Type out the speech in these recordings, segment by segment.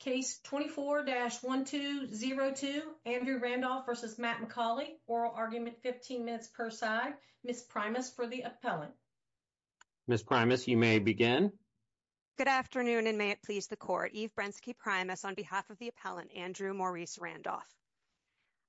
Case 24-1202, Andrew Randolph versus Matt Macauley, oral argument 15 minutes per side. Ms. Primus for the appellant. Ms. Primus, you may begin. Good afternoon and may it please the court. Eve Brensky Primus on behalf of the appellant, Andrew Maurice Randolph.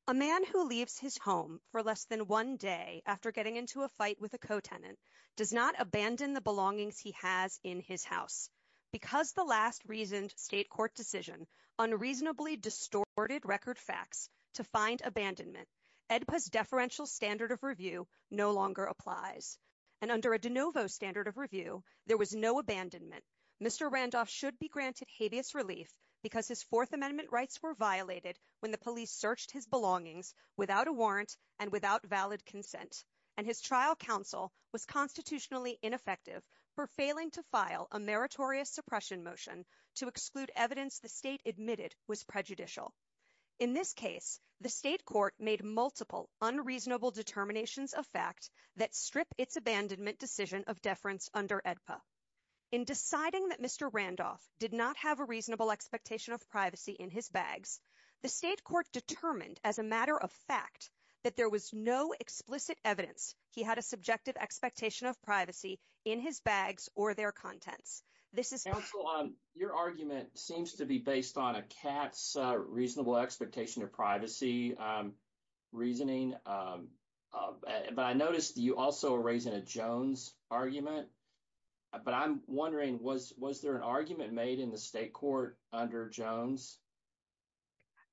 A man who leaves his home for less than one day after getting into a fight with a co-tenant does not abandon the belongings he has in his house. Because the last reasoned state court decision unreasonably distorted record facts to find abandonment, AEDPA's deferential standard of review no longer applies. And under a de novo standard of review, there was no abandonment. Mr. Randolph should be granted habeas relief because his Fourth Amendment rights were violated when the police searched his belongings without a warrant and without valid consent. And his trial counsel was constitutionally ineffective for failing to file a meritorious suppression motion to exclude evidence the state admitted was prejudicial. In this case, the state court made multiple unreasonable determinations of fact that strip its abandonment decision of deference under AEDPA. In deciding that Mr. Randolph did not have a reasonable expectation of privacy in his bags, the state court determined as a matter of fact that there was no explicit evidence he had a subjective expectation of privacy in his bags or their contents. This is your argument seems to be based on a cat's reasonable expectation of privacy reasoning. But I noticed you also raising a Jones argument. But I'm wondering, was was there an argument made in the state court under Jones?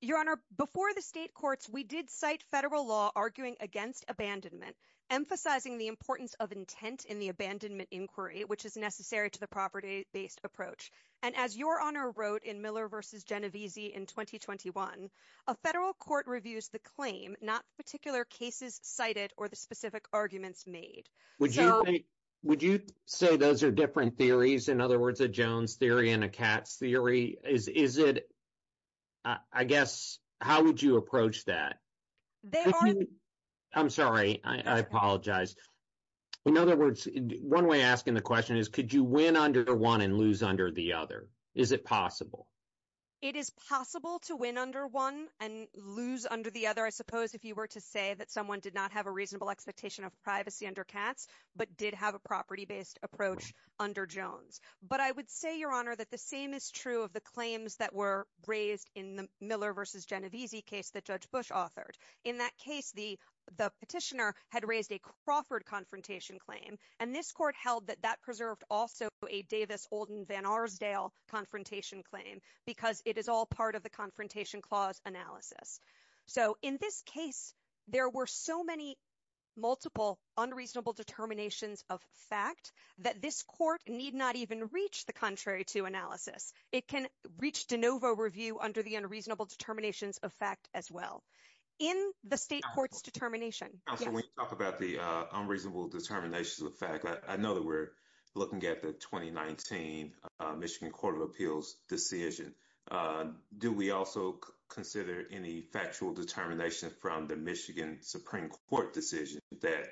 Your Honor, before the state courts, we did cite federal law arguing against abandonment, emphasizing the importance of intent in the abandonment inquiry, which is necessary to the property-based approach. And as your Honor wrote in Miller v. Genovese in 2021, a federal court reviews the claim, not particular cases cited or the specific arguments made. Would you say those are different theories? In other words, a Jones theory and a cat's theory? I guess, how would you approach that? I'm sorry, I apologize. In other words, one way asking the question is, could you win under one and lose under the other? Is it possible? It is possible to win under one and lose under the other. I suppose if you were to say that someone did not have a reasonable expectation of privacy under cats, but did have a property-based approach under Jones. But I would say, your Honor, that the same is true of the claims that were raised in the Miller v. Genovese case that Judge Bush authored. In that case, the petitioner had raised a Crawford confrontation claim. And this court held that that preserved also a Davis-Olden-Vanarsdale confrontation claim, because it is all part of the Confrontation Clause analysis. So in this case, there were so many multiple unreasonable determinations of fact that this court need not even reach the contrary to analysis. It can reach de novo review under the unreasonable determinations of fact as well. In the state court's determination. Counselor, when you talk about the unreasonable determinations of fact, I know that we're looking at the 2019 Michigan Court of Appeals decision. Do we also consider any factual determination from the Michigan Supreme Court decision that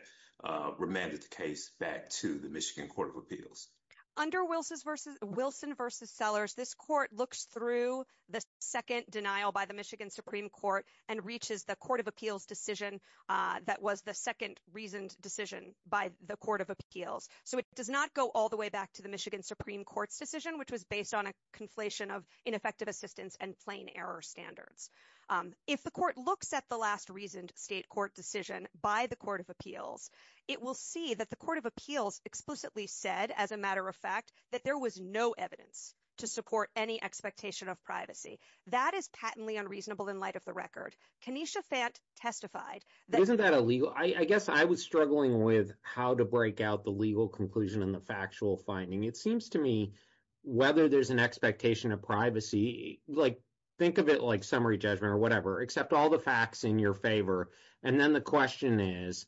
remanded the case back to the Michigan Court of Appeals? Under Wilson v. Sellers, this court looks through the second denial by the Michigan Supreme Court and reaches the Court of Appeals decision that was the second reasoned decision by the Court of Appeals. So it does not go all the way back to the Michigan Supreme Court's decision, which was based on a conflation of ineffective assistance and plain error standards. If the court looks at the last reasoned state court decision by the Court of Appeals, it will see that the Court of Appeals explicitly said, as a matter of fact, that there was no evidence to support any expectation of privacy. That is patently unreasonable in light of the record. Kenesha Fant testified. Isn't that illegal? I guess I was struggling with how to break out the legal conclusion and factual finding. It seems to me whether there's an expectation of privacy, like, think of it like summary judgment or whatever, except all the facts in your favor. And then the question is,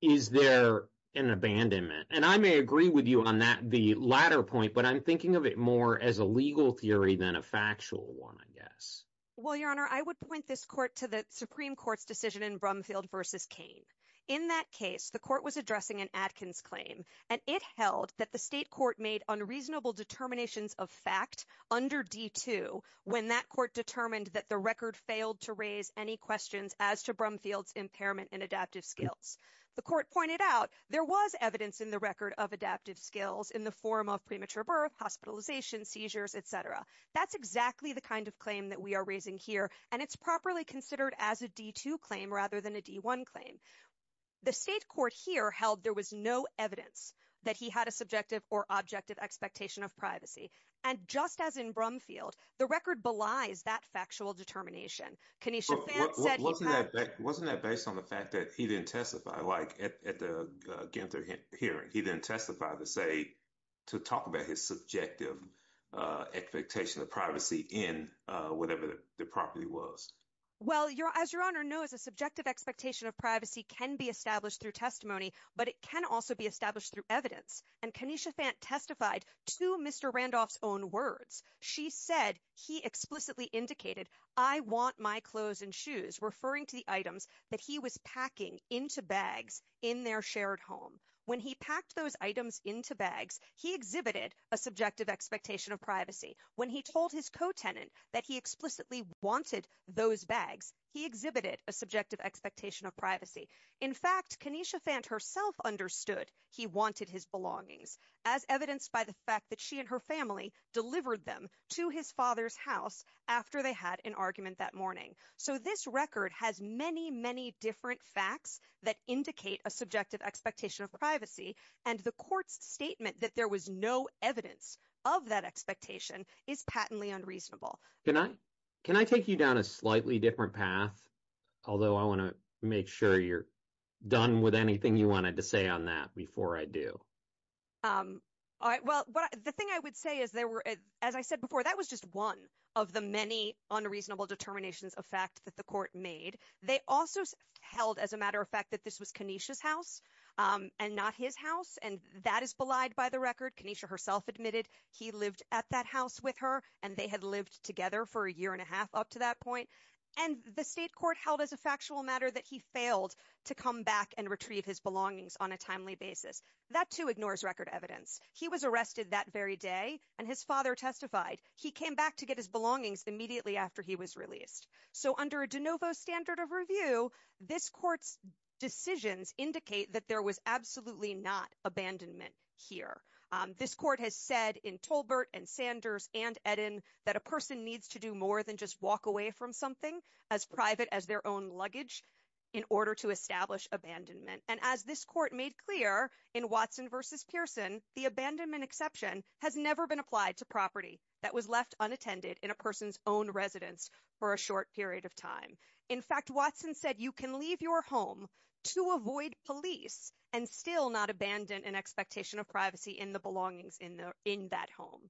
is there an abandonment? And I may agree with you on that, the latter point, but I'm thinking of it more as a legal theory than a factual one, I guess. Well, Your Honor, I would point this court to the Supreme Court's decision in Brumfield v. Kane. In that case, the court was addressing an Adkins claim, and it held that the state court made unreasonable determinations of fact under D-2 when that court determined that the record failed to raise any questions as to Brumfield's impairment in adaptive skills. The court pointed out there was evidence in the record of adaptive skills in the form of premature birth, hospitalization, seizures, etc. That's exactly the kind of claim that we are raising here, and it's properly considered as a D-2 claim rather than a D-1 claim. The state court here held there was no evidence that he had a subjective or objective expectation of privacy. And just as in Brumfield, the record belies that factual determination. Kanisha Phan said he had— Wasn't that based on the fact that he didn't testify, like, at the Guenther hearing? He didn't testify to talk about his subjective expectation of privacy in whatever the property was. Well, as Your Honor knows, a subjective expectation of privacy can be established through testimony, but it can also be established through evidence. And Kanisha Phan testified to Mr. Randolph's own words. She said he explicitly indicated, I want my clothes and shoes, referring to the items that he was packing into bags in their shared home. When he packed those items into bags, he exhibited a subjective expectation of privacy. When he told his co-tenant that he wanted those bags, he exhibited a subjective expectation of privacy. In fact, Kanisha Phan herself understood he wanted his belongings, as evidenced by the fact that she and her family delivered them to his father's house after they had an argument that morning. So this record has many, many different facts that indicate a subjective expectation of privacy, and the court's statement that there was no evidence of that expectation is patently unreasonable. Can I take you down a slightly different path? Although I want to make sure you're done with anything you wanted to say on that before I do. All right. Well, the thing I would say is there were, as I said before, that was just one of the many unreasonable determinations of fact that the court made. They also held, as a matter of fact, that this was Kanisha's house and not his house, and that is belied by the record. Kanisha herself admitted he lived at that house with her, and they had lived together for a year and a half up to that point. And the state court held as a factual matter that he failed to come back and retrieve his belongings on a timely basis. That, too, ignores record evidence. He was arrested that very day, and his father testified. He came back to get his belongings immediately after he was released. So under a de novo standard of review, this court's decisions indicate that there was absolutely not abandonment here. This court has said in Tolbert and Sanders and Eden that a person needs to do more than just walk away from something as private as their own luggage in order to establish abandonment. And as this court made clear in Watson versus Pearson, the abandonment exception has never been applied to property that was left unattended in a person's own residence for a short period of time. In fact, Watson said you can leave your home to avoid police and still not abandon an expectation of privacy in the belongings in that home.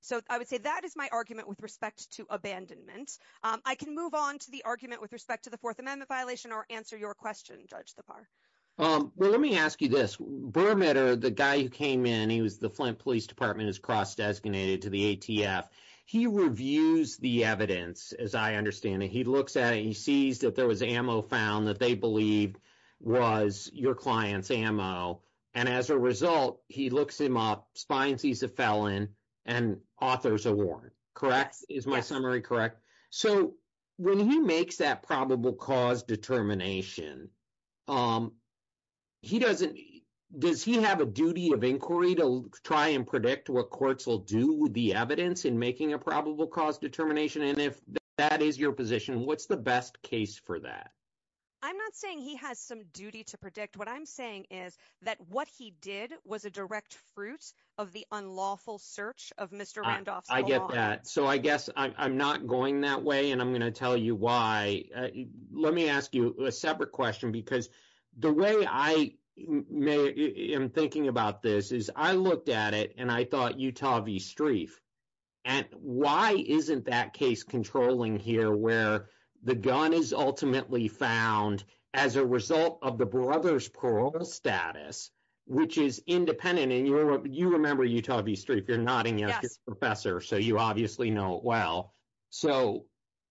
So I would say that is my argument with respect to abandonment. I can move on to the argument with respect to the Fourth Amendment violation or answer your question, Judge Thapar. Well, let me ask you this. Bermitte, the guy who came in, he was the Flint Police Department, is cross-designated to the ATF. He reviews the evidence, as I understand it. He looks at it. He sees that there was ammo found that they believed was your client's ammo. And as a result, he looks him up, finds he's a felon, and authors are warned. Correct? Is my summary correct? So when he makes that probable cause determination, does he have a duty of inquiry to try and predict what courts will do with the probable cause determination? And if that is your position, what's the best case for that? I'm not saying he has some duty to predict. What I'm saying is that what he did was a direct fruit of the unlawful search of Mr. Randolph's belongings. I get that. So I guess I'm not going that way, and I'm going to tell you why. Let me ask you a separate question, because the way I am thinking about this is, I looked at it, and I thought, Utah v. Strieff. And why isn't that case controlling here, where the gun is ultimately found as a result of the brother's parole status, which is independent? And you remember Utah v. Strieff. You're nodding yes, Professor, so you obviously know it well. So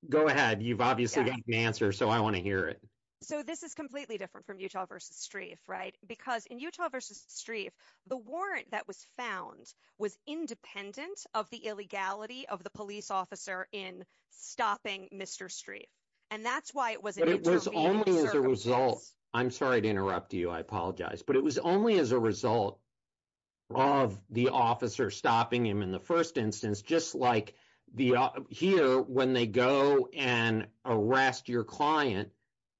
go ahead. You've obviously got the answer, so I want to hear it. So this is completely different from Utah v. Strieff, right? Because in Utah v. Strieff, the warrant that was found was independent of the illegality of the police officer in stopping Mr. Strieff. And that's why it was an intervening service. But it was only as a result. I'm sorry to interrupt you. I apologize. But it was only as a result of the officer stopping him in the first instance, just like here, when they go and arrest your client.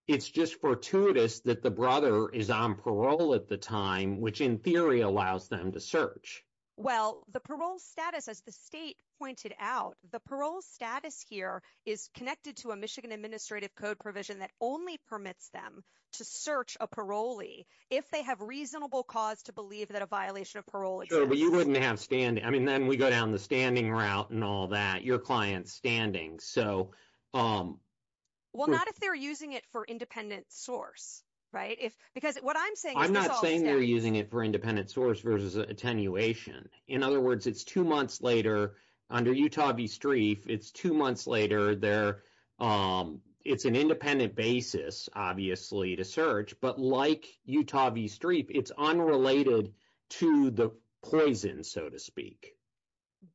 It's just fortuitous that the brother is on parole at the time, which in theory allows them to search. Well, the parole status, as the state pointed out, the parole status here is connected to a Michigan Administrative Code provision that only permits them to search a parolee if they have reasonable cause to believe that a violation of parole exists. Sure, but you wouldn't have standing. I mean, then we go down the standing route and all that, your client's standing. Well, not if they're using it for independent source, right? Because what I'm saying- I'm not saying they're using it for independent source versus attenuation. In other words, it's two months later, under Utah v. Strieff, it's two months later, it's an independent basis, obviously, to search. But like Utah v. Strieff, it's unrelated to the poison, so to speak.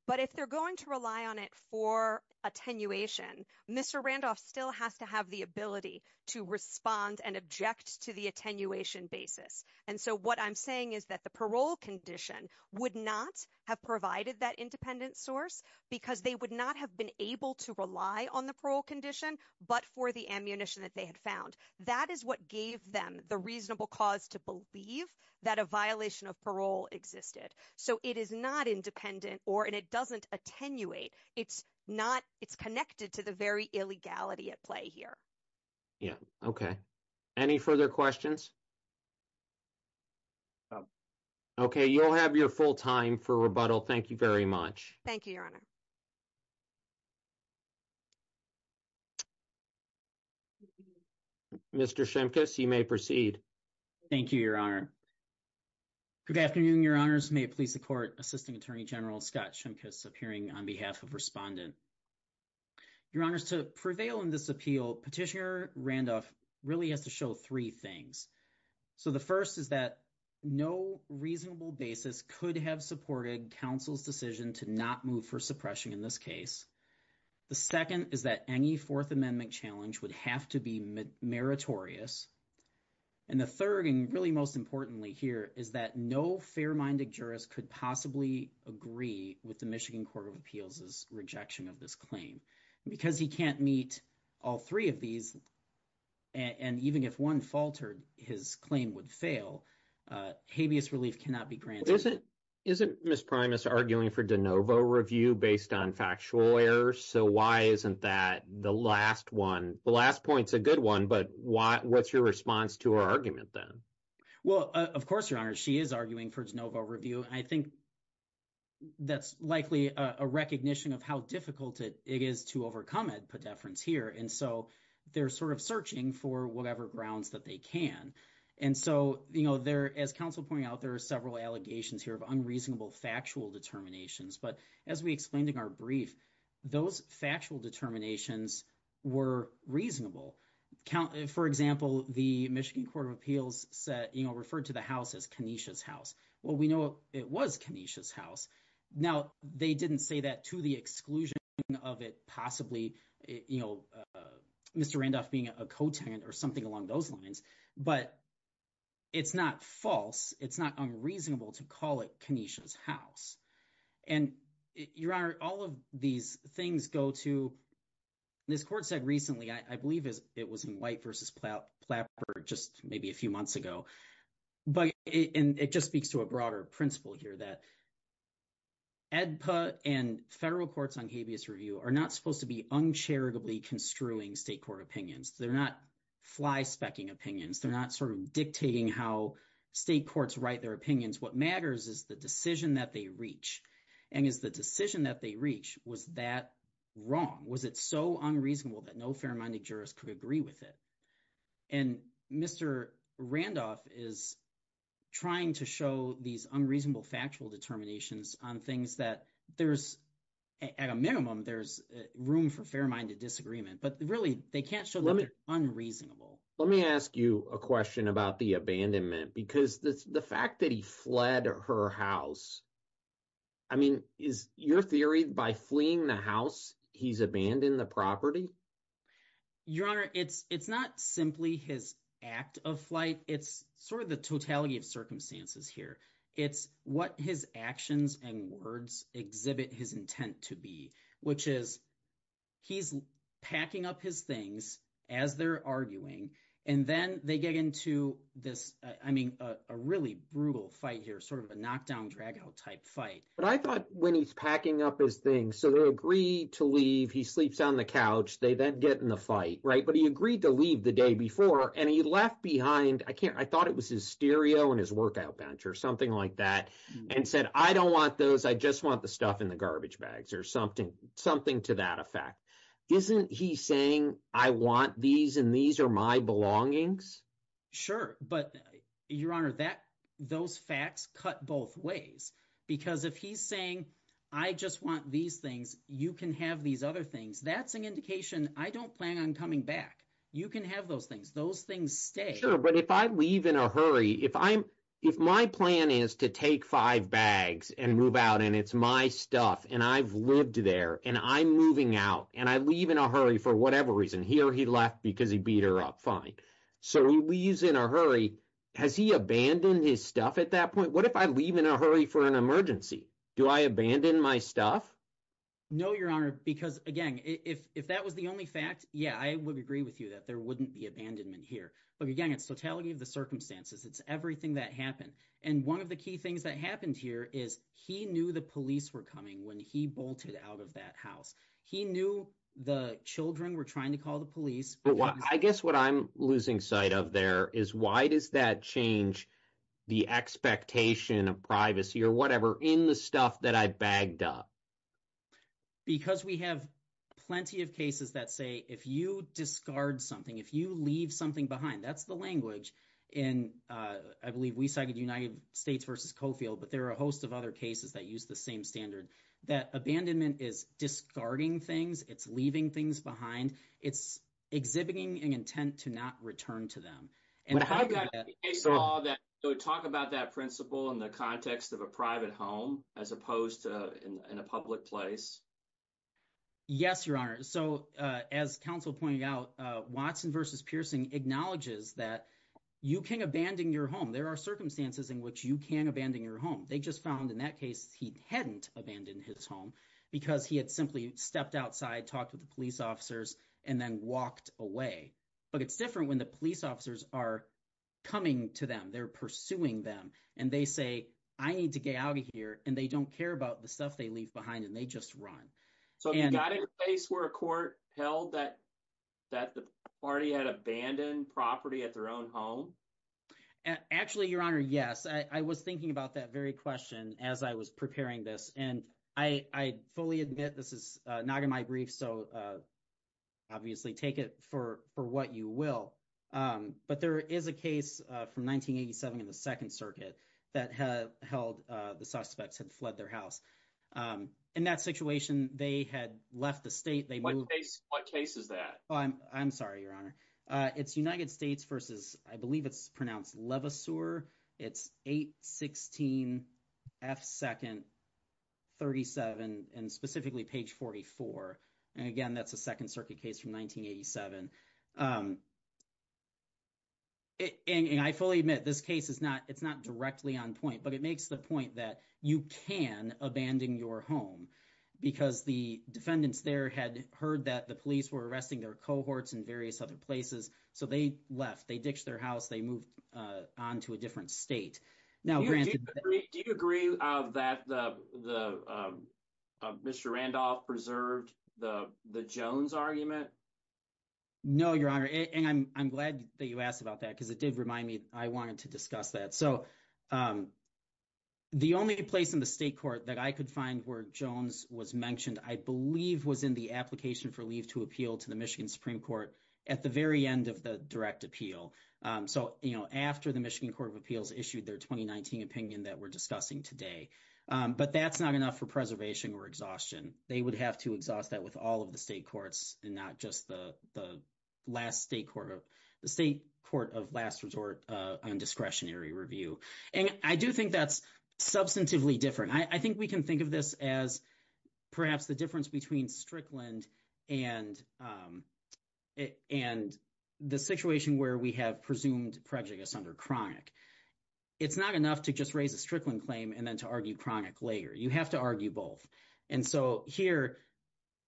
But if they're going to rely on it for attenuation, Mr. Randolph still has to have the ability to respond and object to the attenuation basis. And so what I'm saying is that the parole condition would not have provided that independent source because they would not have been able to rely on the parole condition, but for the ammunition that they had found. That is what gave them the reasonable cause to believe that a violation of parole existed. So it is not independent, and it doesn't attenuate. It's connected to the very illegality at play here. Yeah. Okay. Any further questions? Okay. You'll have your full time for rebuttal. Thank you very much. Thank you, Your Honor. Mr. Shimkus, you may proceed. Thank you, Your Honor. Good afternoon, Your Honors. May it please the Court, Assisting Attorney General Scott Shimkus, appearing on behalf of Respondent. Your Honors, to prevail in this appeal, Petitioner Randolph really has to show three things. So the first is that no reasonable basis could have supported counsel's decision to not move for suppression in this case. The second is that any Fourth Amendment challenge would have to be meritorious. And the third, and really most importantly here, is that no fair-minded jurist could possibly agree with the Michigan Court of Appeals' rejection of this claim. Because he can't meet all three of these, and even if one faltered, his claim would fail, habeas relief cannot be granted. Isn't Ms. Primus arguing for de novo review based on factual error? So why isn't that the last one? The last point's a good one, but what's your response to her argument then? Well, of course, Your Honor, she is arguing for de novo review. I think that's likely a recognition of how difficult it is to overcome it, per deference here. And so they're sort of searching for whatever grounds that they can. And so, as counsel pointed out, there are several allegations here of unreasonable factual determinations. But as we explained in our brief, those factual determinations were reasonable. For example, the Michigan Court of Appeals referred to the house as Kenesha's house. Well, we know it was Kenesha's house. Now, they didn't say that to the exclusion of it possibly, you know, Mr. Randolph being a co-tenant or something along those lines. But it's not false, it's not unreasonable to call it Kenesha's house. And, Your Honor, all of these things go to, this court said recently, I believe it was in White v. Plapper just maybe a few months ago. And it just speaks to a broader principle here that AEDPA and federal courts on habeas review are not supposed to be uncharitably construing state court opinions. They're not fly-specking opinions. They're not sort of dictating how state courts write their opinions. What matters is the decision that they reach. And is the decision that they reach, was that wrong? Was it so unreasonable that no fair-minded jurist could agree with it? And Mr. Randolph is trying to show these unreasonable factual determinations on things that there's, at a minimum, there's room for fair-minded disagreement. But really, they can't show that they're unreasonable. Let me ask you a question about the abandonment, because the fact that he fled her house, I mean, is your theory by fleeing the house, he's abandoned the property? Your Honor, it's not simply his act of flight. It's sort of the totality of circumstances here. It's what his actions and words exhibit his intent to be, which is he's packing up his things as they're arguing, and then they get into this, I mean, a really brutal fight here, sort of a knock-down, drag-out type fight. But I thought when he's packing up his things, so they agree to leave, he sleeps on the couch, they then get in the fight, right? But he agreed to leave the day before, and he left behind, I can't, I thought it was his stereo and his workout bench or something like that, and said, I don't want those, I just want the stuff in the garbage bags, or something to that effect. Isn't he saying, I want these, and these are my belongings? Sure. But, Your Honor, those facts cut both ways. Because if he's saying, I just want these things, you can have these other things, that's an indication, I don't plan on coming back. You can have those things. Those things stay. But if I leave in a hurry, if my plan is to take five bags and move out, and it's my stuff, and I've lived there, and I'm moving out, and I leave in a hurry for whatever reason, here he left because he beat her up, fine. So he leaves in a hurry, has he abandoned his stuff at that point? What if I leave in a hurry for an emergency? Do I abandon my stuff? No, Your Honor, because, again, if that was the only fact, yeah, I would agree with you there wouldn't be abandonment here. But again, it's totality of the circumstances. It's everything that happened. And one of the key things that happened here is, he knew the police were coming when he bolted out of that house. He knew the children were trying to call the police. But I guess what I'm losing sight of there is, why does that change the expectation of privacy, or whatever, in the stuff that I bagged up? Because we have plenty of cases that say, if you discard something, if you leave something behind, that's the language in, I believe, we cited United States v. Coffield, but there are a host of other cases that use the same standard, that abandonment is discarding things, it's leaving things behind, it's exhibiting an intent to not return to them. And how do you get that? So talk about that principle in the context of private home, as opposed to in a public place. Yes, Your Honor. So as counsel pointed out, Watson v. Pierson acknowledges that you can abandon your home. There are circumstances in which you can abandon your home. They just found in that case, he hadn't abandoned his home, because he had simply stepped outside, talked with the police officers, and then walked away. But it's different when the police officers are coming to them, they're pursuing them. And they say, I need to get out of here, and they don't care about the stuff they leave behind, and they just run. So you got in a place where a court held that the party had abandoned property at their own home? Actually, Your Honor, yes. I was thinking about that very question as I was preparing this. And I fully admit, this is not in my brief, so obviously take it for what you will. But there is a case from 1987 in the Second Circuit that held the suspects had fled their house. In that situation, they had left the state. What case is that? I'm sorry, Your Honor. It's United States v. I believe it's pronounced Levasseur. It's 816F2nd37, and specifically page 44. And I fully admit, this case is not directly on point, but it makes the point that you can abandon your home, because the defendants there had heard that the police were arresting their cohorts in various other places. So they left, they ditched their house, they moved on to a different state. Do you agree that Mr. Randolph preserved the Jones argument? No, Your Honor. And I'm glad that you asked about that, because it did remind me I wanted to discuss that. So the only place in the state court that I could find where Jones was mentioned, I believe, was in the application for leave to appeal to the Michigan Supreme Court at the very end of the direct appeal. So after the Michigan Court of Appeals issued their 2019 opinion that we're discussing today. But that's not enough for preservation or exhaustion. They would have to exhaust that with all of the state courts and not just the state court of last resort on discretionary review. And I do think that's substantively different. I think we can think of this as perhaps the difference between Strickland and the situation where we have presumed prejudice under chronic. It's not enough to just raise a Strickland claim and then to argue chronic later. You have to argue both. And so here,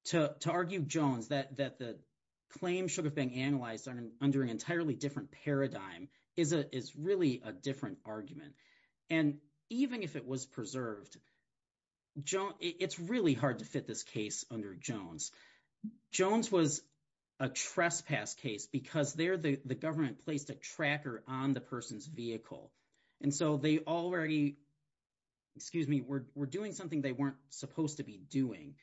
to argue Jones, that the claim should have been analyzed under an entirely different paradigm, is really a different argument. And even if it was preserved, it's really hard to fit this case under Jones. Jones was a trespass case because there the government placed a tracker on the person's vehicle. And so they already were doing something they weren't supposed to be doing.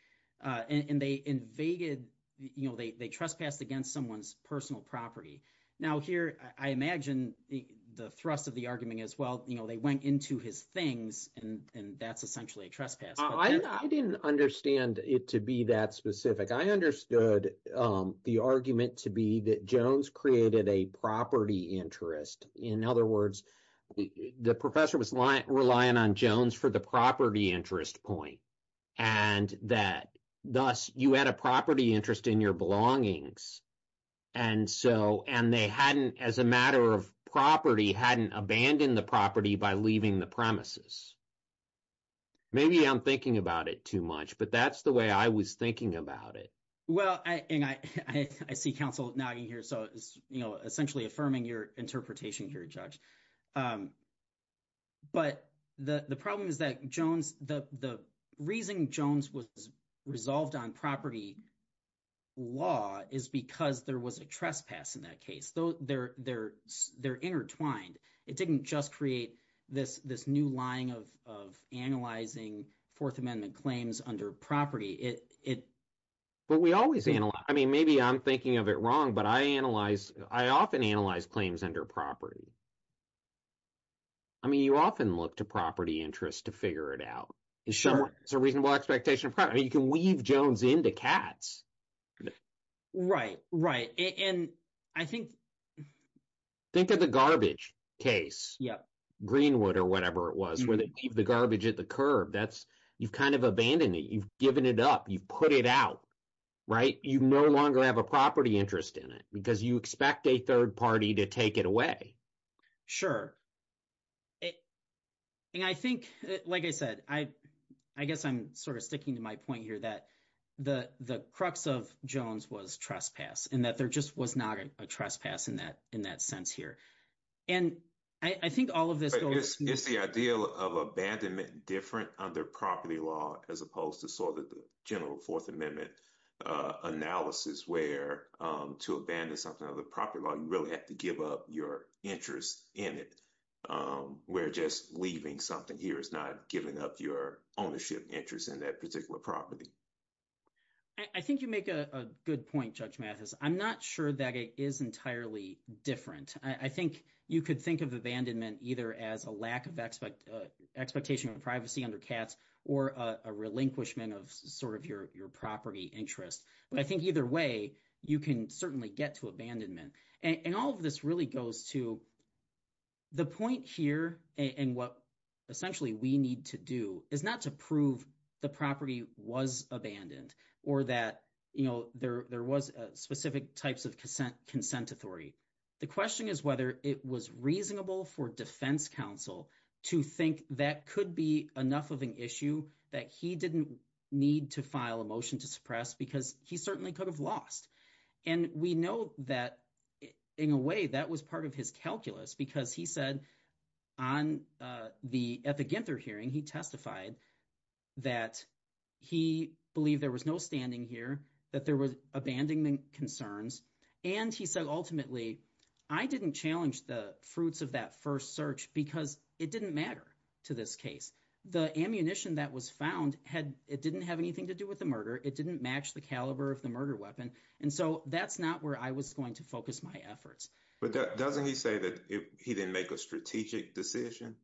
And they invaded, they trespassed against someone's personal property. Now here, I imagine the thrust of the argument as well, they went into his things and that's essentially a trespass. I didn't understand it to be that specific. I understood the argument to be that Jones created a property interest. In other words, the professor was relying on Jones for the property interest point. And that, thus, you had a property interest in your belongings. And so, and they hadn't, as a matter of property, hadn't abandoned the property by leaving the premises. Maybe I'm thinking about it too much, but that's the way I was thinking about it. Well, and I see counsel nodding here. So it's essentially affirming your interpretation here, Judge. But the problem is that Jones, the reason Jones was resolved on property law is because there was a trespass in that case. They're intertwined. It didn't just create this new line of analyzing Fourth Amendment claims under property. But we always analyze. I mean, maybe I'm thinking of it wrong, but I analyze, I often analyze claims under property. I mean, you often look to property interest to figure it out. It's a reasonable expectation of property. I mean, you can weave Jones into Katz. Right, right. And I think... Think of the garbage case, Greenwood or whatever it was, where they leave the garbage at the curb. That's, you've kind of abandoned it. You've given it up. You've put it out, right? You no longer have a property interest in it because you expect a third party to take it away. Sure. And I think, like I said, I guess I'm sort of sticking to my point here that the crux of Jones was trespass, and that there just was not a trespass in that sense here. And I think all of this goes... It's the idea of abandonment different under property law, as opposed to sort of the general Fourth Amendment analysis, where to abandon something under property law, you really have to give up your interest in it, where just leaving something here is not giving up your ownership interest in that particular property. I think you make a good point, Judge Mathis. I'm not sure that it is entirely different. I think you could think of abandonment either as a lack of expectation of privacy under Katz, or a relinquishment of sort of your property interest. But I think either way, you can certainly get to abandonment. And all of this really goes to... The point here, and what essentially we need to do, is not to prove the property was abandoned, or that there was specific types of consent authority. The question is whether it was reasonable for defense counsel to think that could be enough of an issue that he didn't need to file a motion to suppress, because he certainly could have lost. And we know that, in a way, that was part of his calculus, because he said on the... At the Ginther hearing, he testified that he believed there was no standing here, that there was abandonment concerns. And he said, ultimately, I didn't challenge the fruits of that first search because it didn't matter to this case. The ammunition that was found, it didn't have anything to do with the murder. It didn't match the caliber of the murder. And so that's not where I was going to focus my efforts. But doesn't he say that he didn't make a strategic decision?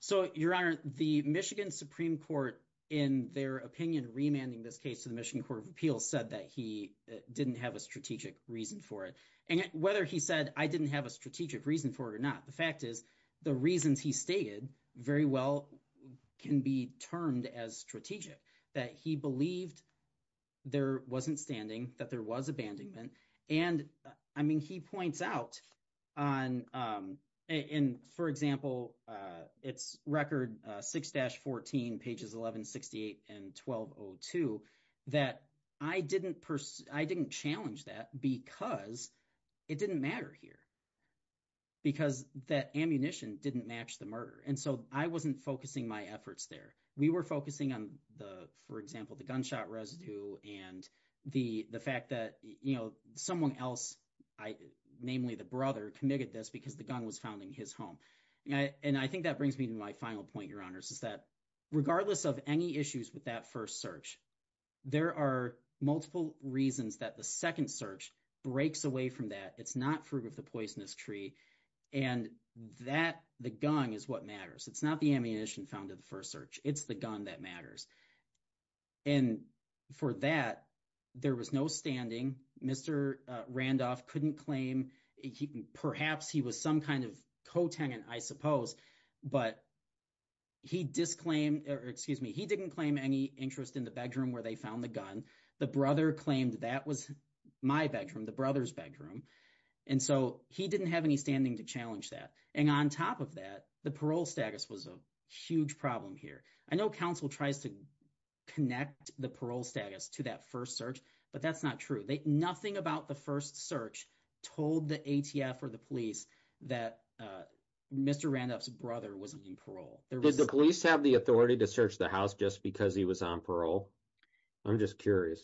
So, Your Honor, the Michigan Supreme Court, in their opinion, remanding this case to the Michigan Court of Appeals, said that he didn't have a strategic reason for it. And whether he said, I didn't have a strategic reason for it or not, the fact is, the reasons he stated very well can be termed as strategic, that he believed there wasn't standing, that there was abandonment. And, I mean, he points out on... In, for example, it's record 6-14, pages 1168 and 1202, that I didn't challenge that because it didn't matter here, because that ammunition didn't match the murder. And so I wasn't focusing my efforts there. We were focusing on, for example, the gunshot residue and the fact that someone else, namely the brother, committed this because the gun was found in his home. And I think that brings me to my final point, Your Honors, is that regardless of any issues with that first search, there are multiple reasons that the second search breaks away from that. It's not fruit of the poisonous tree. And that, the gun, is what matters. It's not the ammunition found in the first search. It's the gun that matters. And for that, there was no standing. Mr. Randolph couldn't claim... Perhaps he was some kind of co-tenant, I suppose, but he didn't claim any interest in the bedroom where they found the gun. The brother claimed that was my bedroom, the brother's bedroom. And so he didn't have any standing to challenge that. And on top of that, the parole status was a huge problem here. I know counsel tries to connect the parole status to that first search, but that's not true. Nothing about the first search told the ATF or the police that Mr. Randolph's brother was on parole. Did the police have the authority to search the house just because he was on parole? I'm just curious.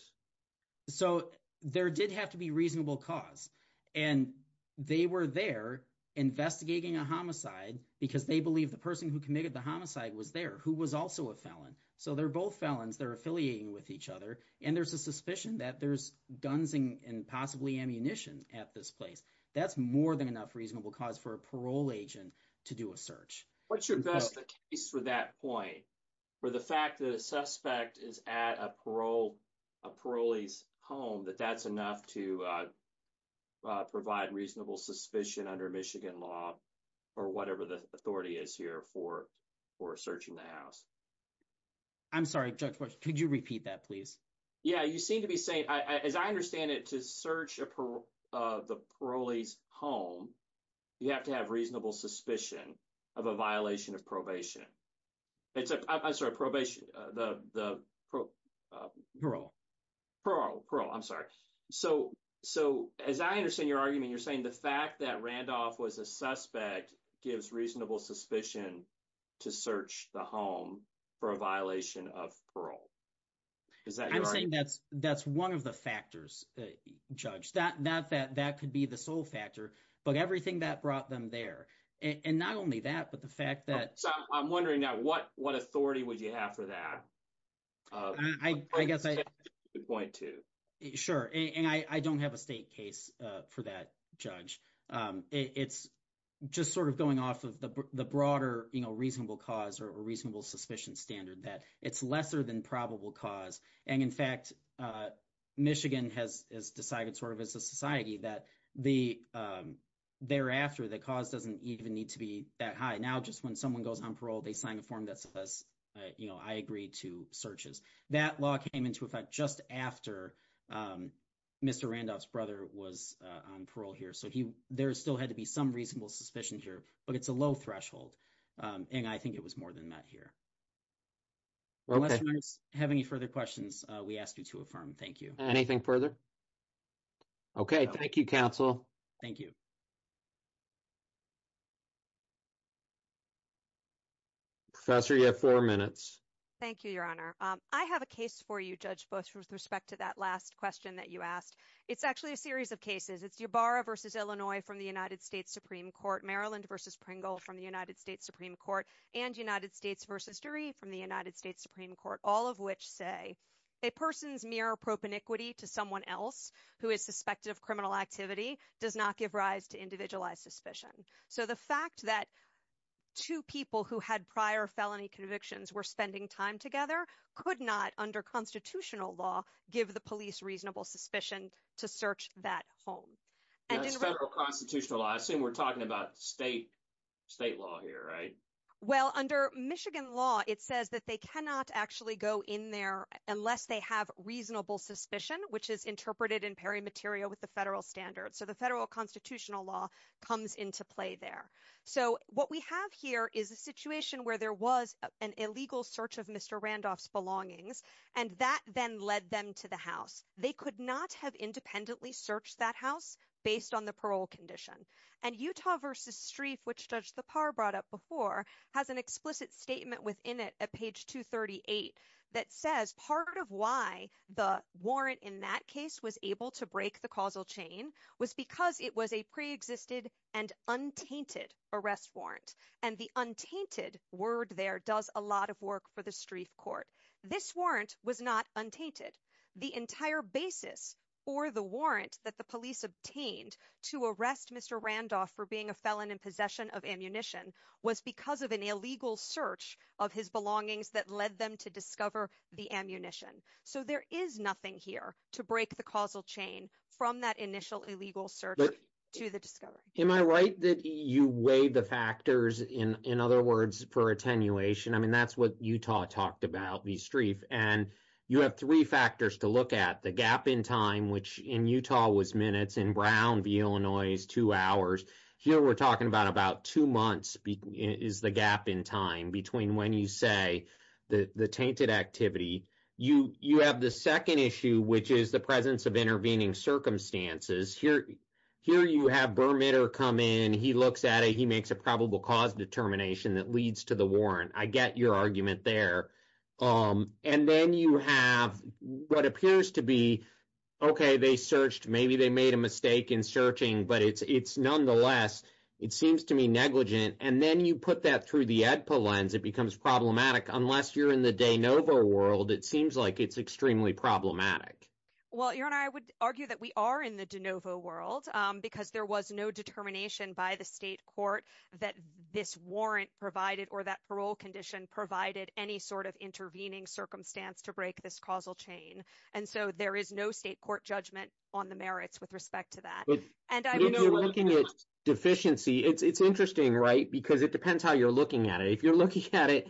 So there did have to be reasonable cause. And they were there investigating a homicide because they believe the person who committed the homicide was there, who was also a felon. So they're both felons. They're affiliating with each other. And there's a suspicion that there's guns and possibly ammunition at this place. That's more than enough reasonable cause for a parole agent to do a search. What's your best case for that point, for the fact that a suspect is at a parolee's home, that that's enough to provide reasonable suspicion under Michigan law or whatever the authority is here for searching the house? I'm sorry, Judge, could you repeat that, please? Yeah. You seem to be saying, as I understand it, to search the parolee's home, you have to reasonable suspicion of a violation of probation. I'm sorry, probation. Parole. Parole. Parole. I'm sorry. So as I understand your argument, you're saying the fact that Randolph was a suspect gives reasonable suspicion to search the home for a violation of parole. Is that your argument? I'm saying that's one of the factors, Judge. That could be the sole factor, but everything that brought them there. And not only that, but the fact that- So I'm wondering now, what authority would you have for that? I guess I- Point two. Sure. And I don't have a state case for that, Judge. It's just sort of going off of the broader reasonable cause or reasonable suspicion standard that it's lesser than probable cause. And in fact, Michigan has decided sort of as a society that thereafter, the cause doesn't even need to be that high. Now, just when someone goes on parole, they sign a form that says, I agree to searches. That law came into effect just after Mr. Randolph's brother was on parole here. So there still had to be some reasonable suspicion here, but it's a low threshold. And I think it was more than that here. Unless you guys have any further questions, we ask you to affirm. Thank you. Anything further? Okay. Thank you, counsel. Thank you. Professor, you have four minutes. Thank you, Your Honor. I have a case for you, Judge, both with respect to that last question that you asked. It's actually a series of cases. It's Yabarra versus Illinois from the United States Supreme Court, Maryland versus Pringle from the United States Supreme Court, and United A person's mere propeniquity to someone else who is suspected of criminal activity does not give rise to individualized suspicion. So the fact that two people who had prior felony convictions were spending time together could not, under constitutional law, give the police reasonable suspicion to search that home. That's federal constitutional law. I assume we're talking about state law here, right? Well, under Michigan law, it says that they cannot actually go in unless they have reasonable suspicion, which is interpreted in peri materia with the federal standards. So the federal constitutional law comes into play there. So what we have here is a situation where there was an illegal search of Mr. Randolph's belongings, and that then led them to the house. They could not have independently searched that house based on the parole condition. And Utah versus Streiff, which Judge Thapar brought up before, has an explicit statement within it at page 238 that says part of why the warrant in that case was able to break the causal chain was because it was a pre-existed and untainted arrest warrant. And the untainted word there does a lot of work for the Streiff court. This warrant was not untainted. The entire basis for the warrant that the police obtained to arrest Mr. Randolph for being a felon in of ammunition was because of an illegal search of his belongings that led them to discover the ammunition. So there is nothing here to break the causal chain from that initial illegal search to the discovery. Am I right that you weigh the factors, in other words, for attenuation? I mean, that's what Utah talked about, the Streiff. And you have three factors to look at. The gap in time, which in Utah was minutes, in Brown v. Illinois is two hours. Here we're talking about about two months is the gap in time between when you say the tainted activity. You have the second issue, which is the presence of intervening circumstances. Here you have Bermitter come in. He looks at it. He makes a probable cause determination that leads to the warrant. I get your argument there. And then you have what appears to be, OK, they searched, maybe they made a mistake in searching, but it's nonetheless, it seems to me, negligent. And then you put that through the EDPA lens, it becomes problematic. Unless you're in the de novo world, it seems like it's extremely problematic. Well, Aaron, I would argue that we are in the de novo world because there was no determination by the state court that this warrant provided or that parole condition provided any sort of intervening circumstance to break this causal chain. And so there is no state court judgment on the merits with respect to that. If you're looking at deficiency, it's interesting, right? Because it depends how you're looking at it. If you're looking at it,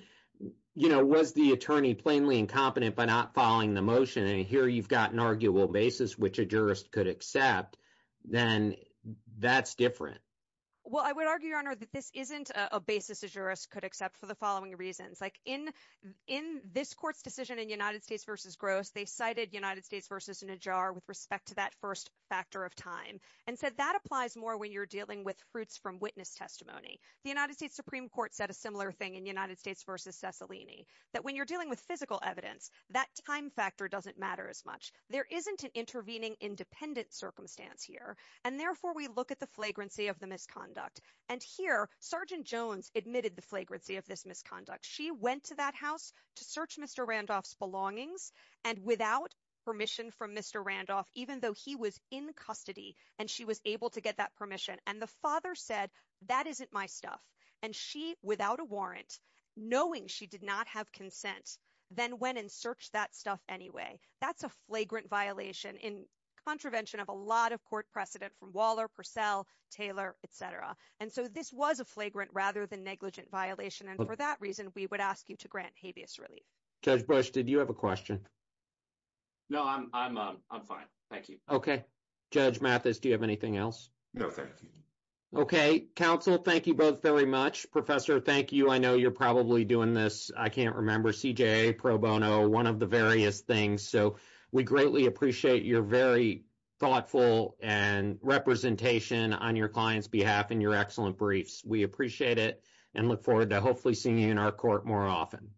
you know, was the attorney plainly incompetent by not following the motion? And here you've got an arguable basis, which a Well, I would argue, Your Honor, that this isn't a basis a jurist could accept for the following reasons. Like in this court's decision in United States versus Gross, they cited United States versus Najjar with respect to that first factor of time and said that applies more when you're dealing with fruits from witness testimony. The United States Supreme Court said a similar thing in United States versus Cicilline, that when you're dealing with physical evidence, that time factor doesn't matter as much. There isn't an intervening independent circumstance here. And therefore, we look at the flagrancy of the misconduct. And here, Sergeant Jones admitted the flagrancy of this misconduct. She went to that house to search Mr. Randolph's belongings and without permission from Mr. Randolph, even though he was in custody and she was able to get that permission. And the father said, that isn't my stuff. And she, without a warrant, knowing she did not have consent, then went and searched that stuff anyway. That's a flagrant violation in contravention of a lot of court precedent from Waller, Purcell, Taylor, et cetera. And so this was a flagrant rather than negligent violation. And for that reason, we would ask you to grant habeas relief. Judge Bush, did you have a question? No, I'm fine. Thank you. Okay. Judge Mathis, do you have anything else? No, thank you. Okay. Counsel, thank you both very much. Professor, thank you. I know you're doing this, I can't remember, CJA pro bono, one of the various things. So we greatly appreciate your very thoughtful and representation on your client's behalf and your excellent briefs. We appreciate it and look forward to hopefully seeing you in our court more often.